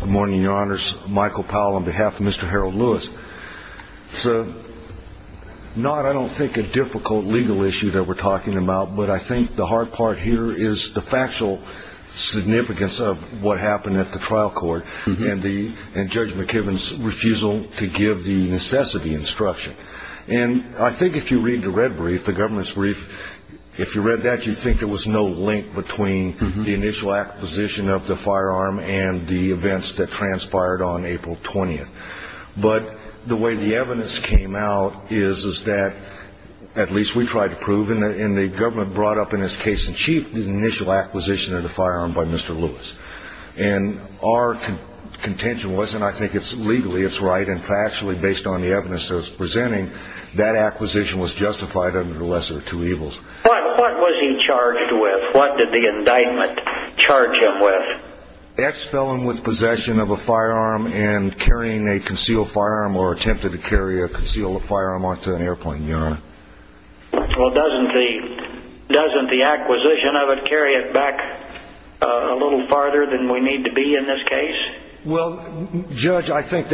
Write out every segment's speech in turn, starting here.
Good morning, your honors. Michael Powell on behalf of Mr. Harold Lewis. It's not, I don't think, a difficult legal issue that we're talking about, but I think the hard part here is the factual significance of what happened at the trial court and Judge McKibben's refusal to give the necessity instruction. And I think if you read the red brief, the government's brief, if you read that, you'd think there was no link between the initial acquisition of the firearm and the events that transpired on April 20th. But the way the evidence came out is that, at least we tried to prove, and the government brought up in its case in chief the initial acquisition of the firearm by Mr. Lewis. And our contention was, and I think it's legally, it's right, and factually based on the evidence that it's presenting, that acquisition was justified under the lesser of two evils. But what was he charged with? What did the indictment charge him with? Ex-felon with possession of a firearm and carrying a concealed firearm or attempted to carry a concealed firearm onto an airplane, your honor. Well, doesn't the acquisition of it carry it back a little farther than we need to be in this case? Well, Judge, I think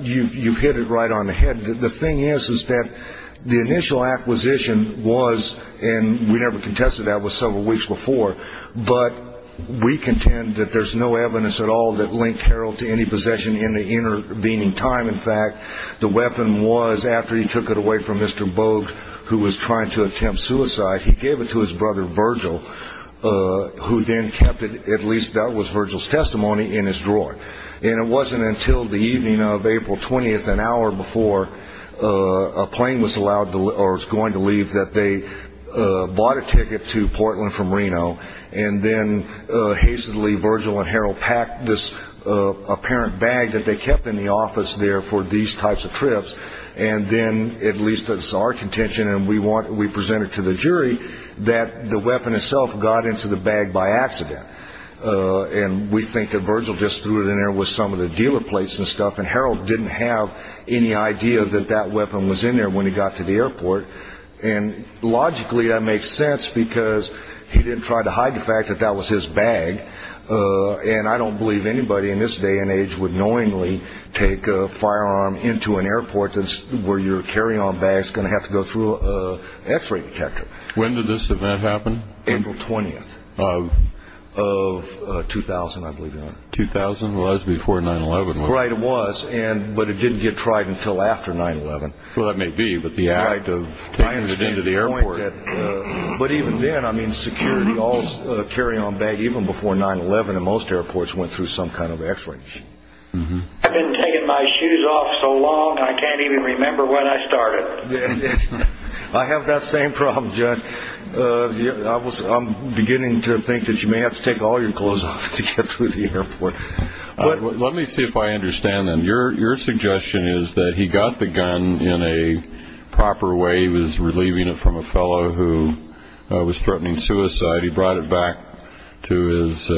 you've hit it right on the head. The thing is, is that the initial acquisition was, and we never contested that, was several weeks before. But we contend that there's no evidence at all that linked Harold to any possession in the intervening time. In fact, the weapon was, after he took it away from Mr. Bogue, who was trying to attempt suicide, he gave it to his brother Virgil, who then kept it, at least that was Virgil's testimony, in his drawer. And it wasn't until the evening of April 20th, an hour before a plane was going to leave, that they bought a ticket to Portland from Reno. And then, hastily, Virgil and Harold packed this apparent bag that they kept in the office there for these types of trips. And then, at least that's our contention, and we present it to the jury, that the weapon itself got into the bag by accident. And we think that Virgil just threw it in there with some of the dealer plates and stuff. And Harold didn't have any idea that that weapon was in there when he got to the airport. And logically, that makes sense, because he didn't try to hide the fact that that was his bag. And I don't believe anybody in this day and age would knowingly take a firearm into an airport where your carry-on bag is going to have to go through an X-ray detector. When did this event happen? April 20th of 2000, I believe. 2000? Well, that's before 9-11. Right, it was, but it didn't get tried until after 9-11. Well, that may be, but the act of taking it into the airport. But even then, I mean, security, all carry-on bag, even before 9-11, and most airports went through some kind of X-ray. I've been taking my shoes off so long, I can't even remember when I started. I have that same problem, John. I'm beginning to think that you may have to take all your clothes off to get through the airport. Let me see if I understand then. Your suggestion is that he got the gun in a proper way. He was relieving it from a fellow who was threatening suicide. He brought it back to his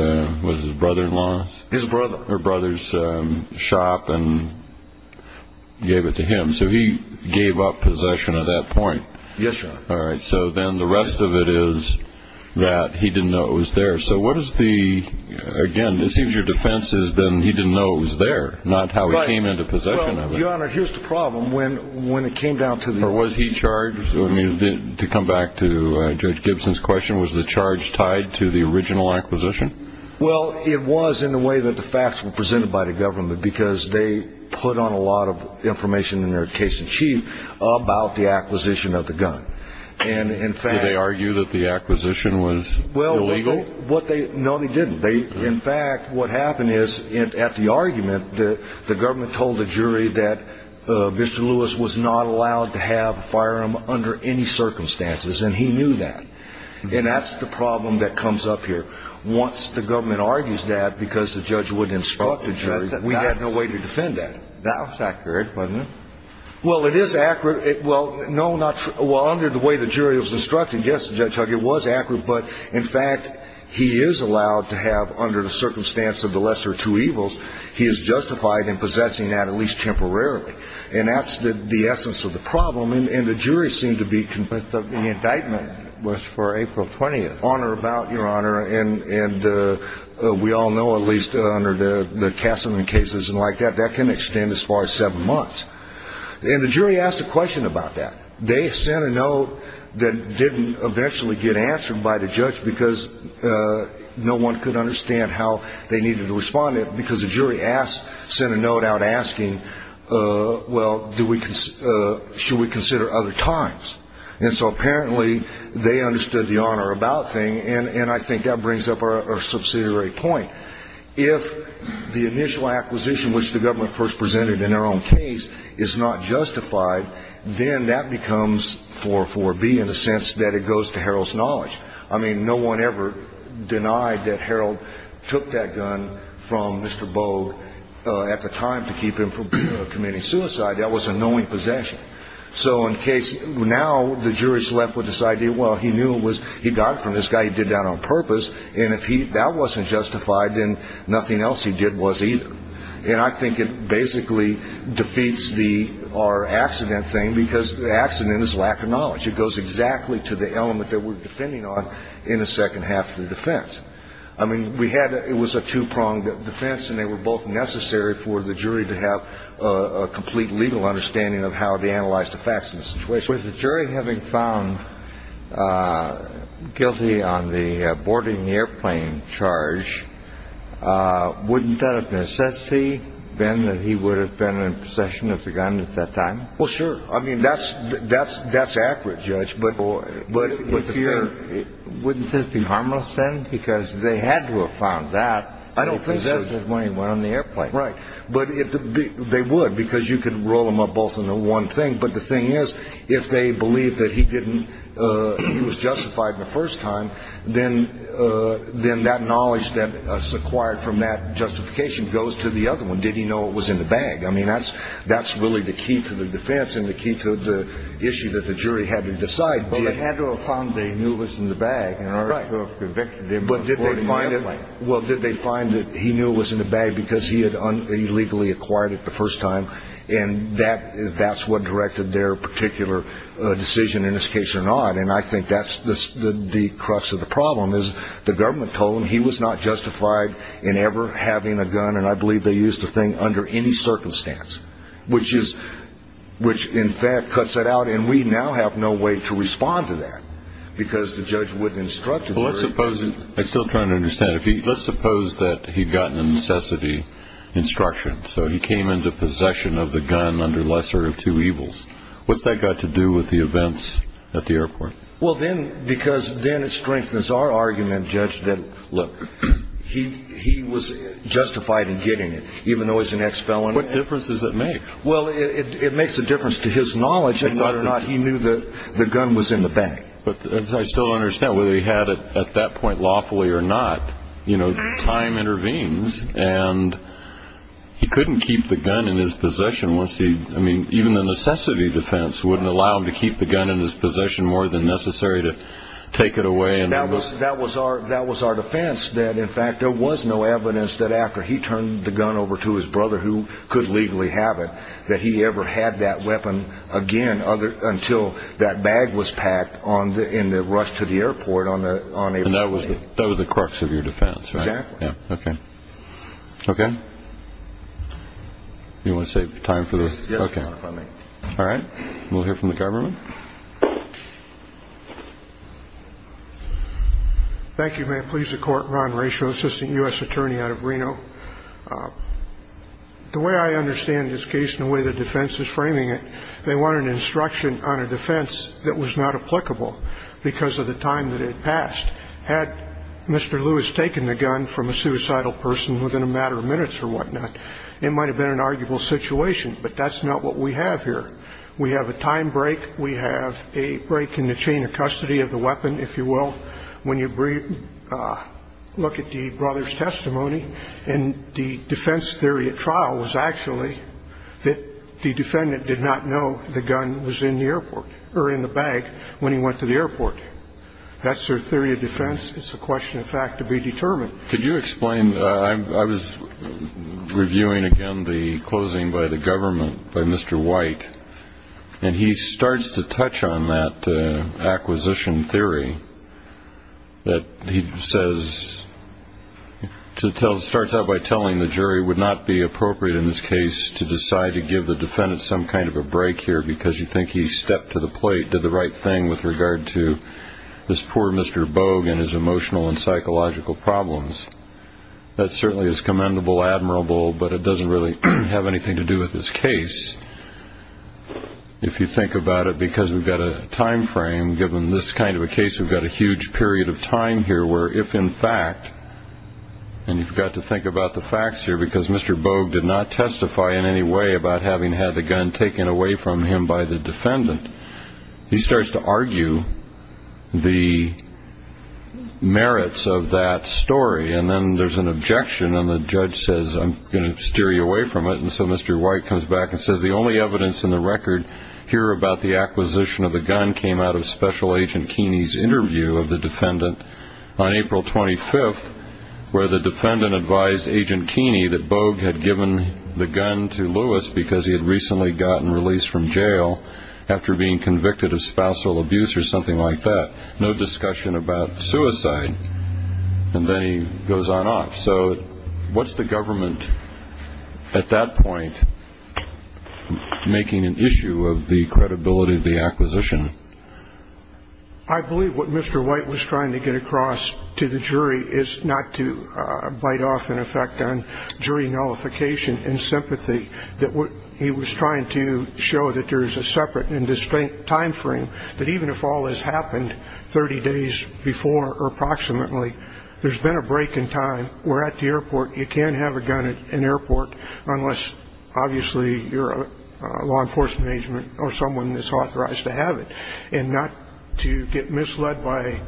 brother-in-law's shop and gave it to him. So he gave up possession at that point. Yes, John. All right, so then the rest of it is that he didn't know it was there. So what is the, again, it seems your defense is that he didn't know it was there, not how he came into possession of it. Your Honor, here's the problem. When it came down to the- Or was he charged? To come back to Judge Gibson's question, was the charge tied to the original acquisition? Well, it was in the way that the facts were presented by the government, because they put on a lot of information in their case in chief about the acquisition of the gun. Did they argue that the acquisition was illegal? No, they didn't. In fact, what happened is at the argument, the government told the jury that Mr. Lewis was not allowed to have a firearm under any circumstances, and he knew that. And that's the problem that comes up here. Once the government argues that because the judge wouldn't instruct the jury, we had no way to defend that. That was accurate, wasn't it? Well, it is accurate. Well, no, not true. Well, under the way the jury was instructed, yes, Judge Huggins, it was accurate. But, in fact, he is allowed to have under the circumstance of the lesser of two evils, he is justified in possessing that at least temporarily. And that's the essence of the problem. And the jury seemed to be convinced of that. But the indictment was for April 20th. On or about, Your Honor. And we all know, at least under the Kassaman cases and like that, that can extend as far as seven months. And the jury asked a question about that. They sent a note that didn't eventually get answered by the judge because no one could understand how they needed to respond to it because the jury sent a note out asking, well, should we consider other times? And so apparently they understood the on or about thing, and I think that brings up our subsidiary point. If the initial acquisition, which the government first presented in their own case, is not justified, then that becomes 4-4-B in the sense that it goes to Harold's knowledge. I mean, no one ever denied that Harold took that gun from Mr. Bogue at the time to keep him from committing suicide. That was a knowing possession. So now the jury is left with this idea, well, he knew it was he got it from this guy. He did that on purpose. And if that wasn't justified, then nothing else he did was either. And I think it basically defeats our accident thing because the accident is lack of knowledge. It goes exactly to the element that we're defending on in the second half of the defense. I mean, it was a two-pronged defense, and they were both necessary for the jury to have a complete legal understanding of how they analyzed the facts of the situation. With the jury having found guilty on the boarding the airplane charge, wouldn't that have necessarily been that he would have been in possession of the gun at that time? Well, sure. I mean, that's that's that's accurate, Judge. But wouldn't this be harmless then? Because they had to have found that. I don't think that when he went on the airplane. Right. But they would because you could roll them up both in the one thing. But the thing is, if they believe that he didn't he was justified the first time, then then that knowledge that is acquired from that justification goes to the other one. Did he know it was in the bag? I mean, that's that's really the key to the defense and the key to the issue that the jury had to decide. Well, they had to have found they knew was in the bag. But did they find it? Well, did they find that he knew was in the bag because he had illegally acquired it the first time? And that that's what directed their particular decision in this case or not. And I think that's the crux of the problem is the government told him he was not justified in ever having a gun. And I believe they used the thing under any circumstance, which is which, in fact, cuts it out. And we now have no way to respond to that because the judge wouldn't instruct. Well, let's suppose I still trying to understand if he let's suppose that he'd gotten a necessity instruction. So he came into possession of the gun under lesser of two evils. What's that got to do with the events at the airport? Well, then because then it strengthens our argument, Judge, that, look, he he was justified in getting it, even though he's an ex felon. What difference does it make? Well, it makes a difference to his knowledge and whether or not he knew that the gun was in the bag. But I still understand whether he had it at that point lawfully or not. You know, time intervenes and he couldn't keep the gun in his possession. Once he I mean, even the necessity defense wouldn't allow him to keep the gun in his possession more than necessary to take it away. And that was that was our that was our defense that, in fact, there was no evidence that after he turned the gun over to his brother who could legally have it, that he ever had that weapon again other until that bag was packed on the in the rush to the airport on the on. And that was that was the crux of your defense. Yeah. OK. OK. You want to save time for this? OK. All right. We'll hear from the government. Thank you, ma'am. Please. A court run ratio. Assistant U.S. attorney out of Reno. The way I understand this case and the way the defense is framing it, they want an instruction on a defense that was not applicable because of the time that it passed. Had Mr. Lewis taken the gun from a suicidal person within a matter of minutes or whatnot, it might have been an arguable situation. But that's not what we have here. We have a time break. We have a break in the chain of custody of the weapon, if you will. When you look at the brother's testimony in the defense theory, a trial was actually that the defendant did not know the gun was in the airport or in the bag when he went to the airport. That's their theory of defense. It's a question of fact to be determined. Could you explain? I was reviewing again the closing by the government by Mr. White. And he starts to touch on that acquisition theory. That he says to tell starts out by telling the jury would not be appropriate in this case to decide to give the defendant some kind of a break here because you think he stepped to the plate, did the right thing with regard to this poor Mr. Bogue and his emotional and psychological problems. That certainly is commendable, admirable, but it doesn't really have anything to do with this case. If you think about it, because we've got a time frame, given this kind of a case, we've got a huge period of time here where if in fact, and you've got to think about the facts here, because Mr. Bogue did not testify in any way about having had the gun taken away from him by the defendant, he starts to argue the merits of that story. And then there's an objection and the judge says I'm going to steer you away from it. And so Mr. White comes back and says the only evidence in the record here about the acquisition of the gun came out of Special Agent Keeney's interview of the defendant on April 25th, where the defendant advised Agent Keeney that Bogue had given the gun to Lewis because he had recently gotten released from jail after being convicted of spousal abuse or something like that. No discussion about suicide. And then he goes on off. So what's the government at that point making an issue of the credibility of the acquisition? I believe what Mr. White was trying to get across to the jury is not to bite off in effect on jury nullification and sympathy, that what he was trying to show that there is a separate and distinct time frame that even if all this happened 30 days before or approximately, there's been a break in time. We're at the airport. You can't have a gun at an airport unless obviously you're a law enforcement agent or someone that's authorized to have it, and not to get misled by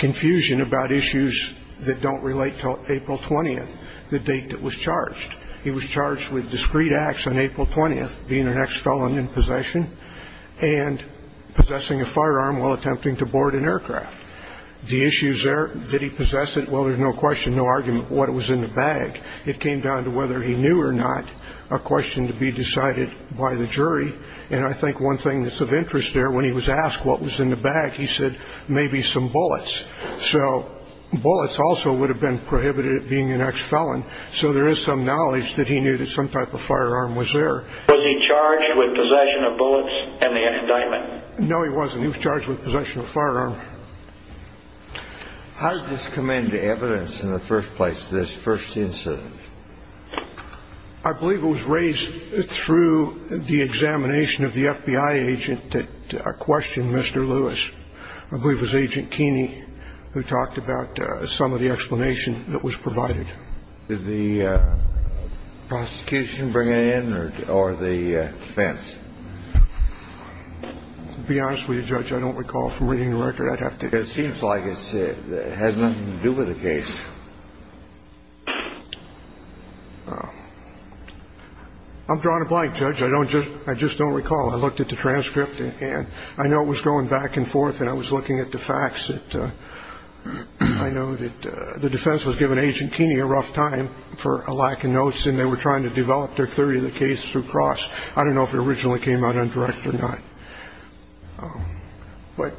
confusion about issues that don't relate to April 20th, the date that was charged. He was charged with discreet acts on April 20th, being an ex-felon in possession, and possessing a firearm while attempting to board an aircraft. The issues there, did he possess it? Well, there's no question, no argument what was in the bag. It came down to whether he knew or not, a question to be decided by the jury. And I think one thing that's of interest there, when he was asked what was in the bag, he said maybe some bullets. So bullets also would have been prohibited being an ex-felon. So there is some knowledge that he knew that some type of firearm was there. Was he charged with possession of bullets and the indictment? No, he wasn't. He was charged with possession of a firearm. How did this come into evidence in the first place, this first incident? I believe it was raised through the examination of the FBI agent that questioned Mr. Lewis. I believe it was Agent Keeney who talked about some of the explanation that was provided. Did the prosecution bring it in or the defense? To be honest with you, Judge, I don't recall from reading the record. I'd have to. It seems like it has nothing to do with the case. I'm drawing a blank, Judge. I don't just I just don't recall. I looked at the transcript and I know it was going back and forth and I was looking at the facts. I know that the defense was given Agent Keeney a rough time for a lack of notes, and they were trying to develop their theory of the case through cross. I don't know if it originally came out undirected or not. But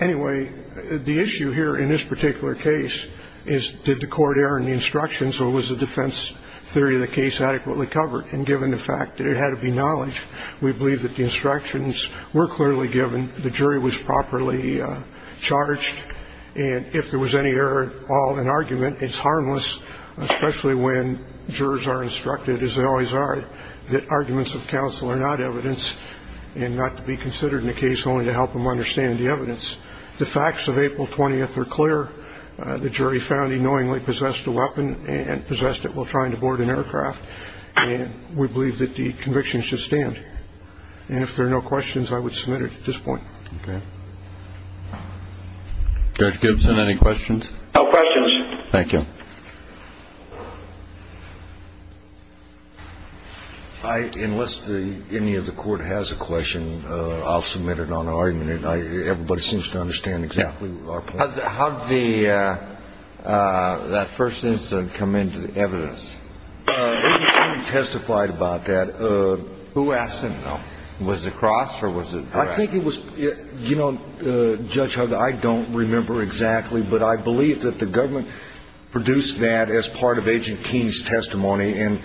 anyway, the issue here in this particular case is did the court err in the instructions or was the defense theory of the case adequately covered? And given the fact that it had to be knowledge, we believe that the instructions were clearly given. The jury was properly charged. And if there was any error at all in argument, it's harmless, especially when jurors are instructed, as they always are, that arguments of counsel are not evidence and not to be considered in the case, only to help them understand the evidence. The facts of April 20th are clear. The jury found he knowingly possessed a weapon and possessed it while trying to board an aircraft. And we believe that the conviction should stand. And if there are no questions, I would submit it at this point. Okay. Judge Gibson, any questions? No questions. Thank you. Unless any of the court has a question, I'll submit it on argument. Everybody seems to understand exactly our point. How did that first incident come into the evidence? Nobody testified about that. Who asked him, though? Was it Cross or was it Brad? I think it was, you know, Judge Hugg, I don't remember exactly, but I believe that the government produced that as part of Agent Keene's testimony. And,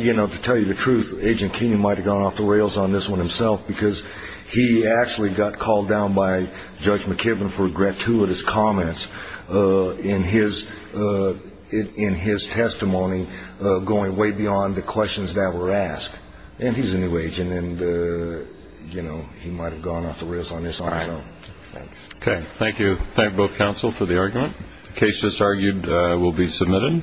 you know, to tell you the truth, Agent Keene might have gone off the rails on this one himself because he actually got called down by Judge McKibben for a gratuitous comment in his testimony going way beyond the questions that were asked. And he's a new agent, and, you know, he might have gone off the rails on his own. All right. Okay. Thank you. Thank both counsel for the argument. The case just argued will be submitted.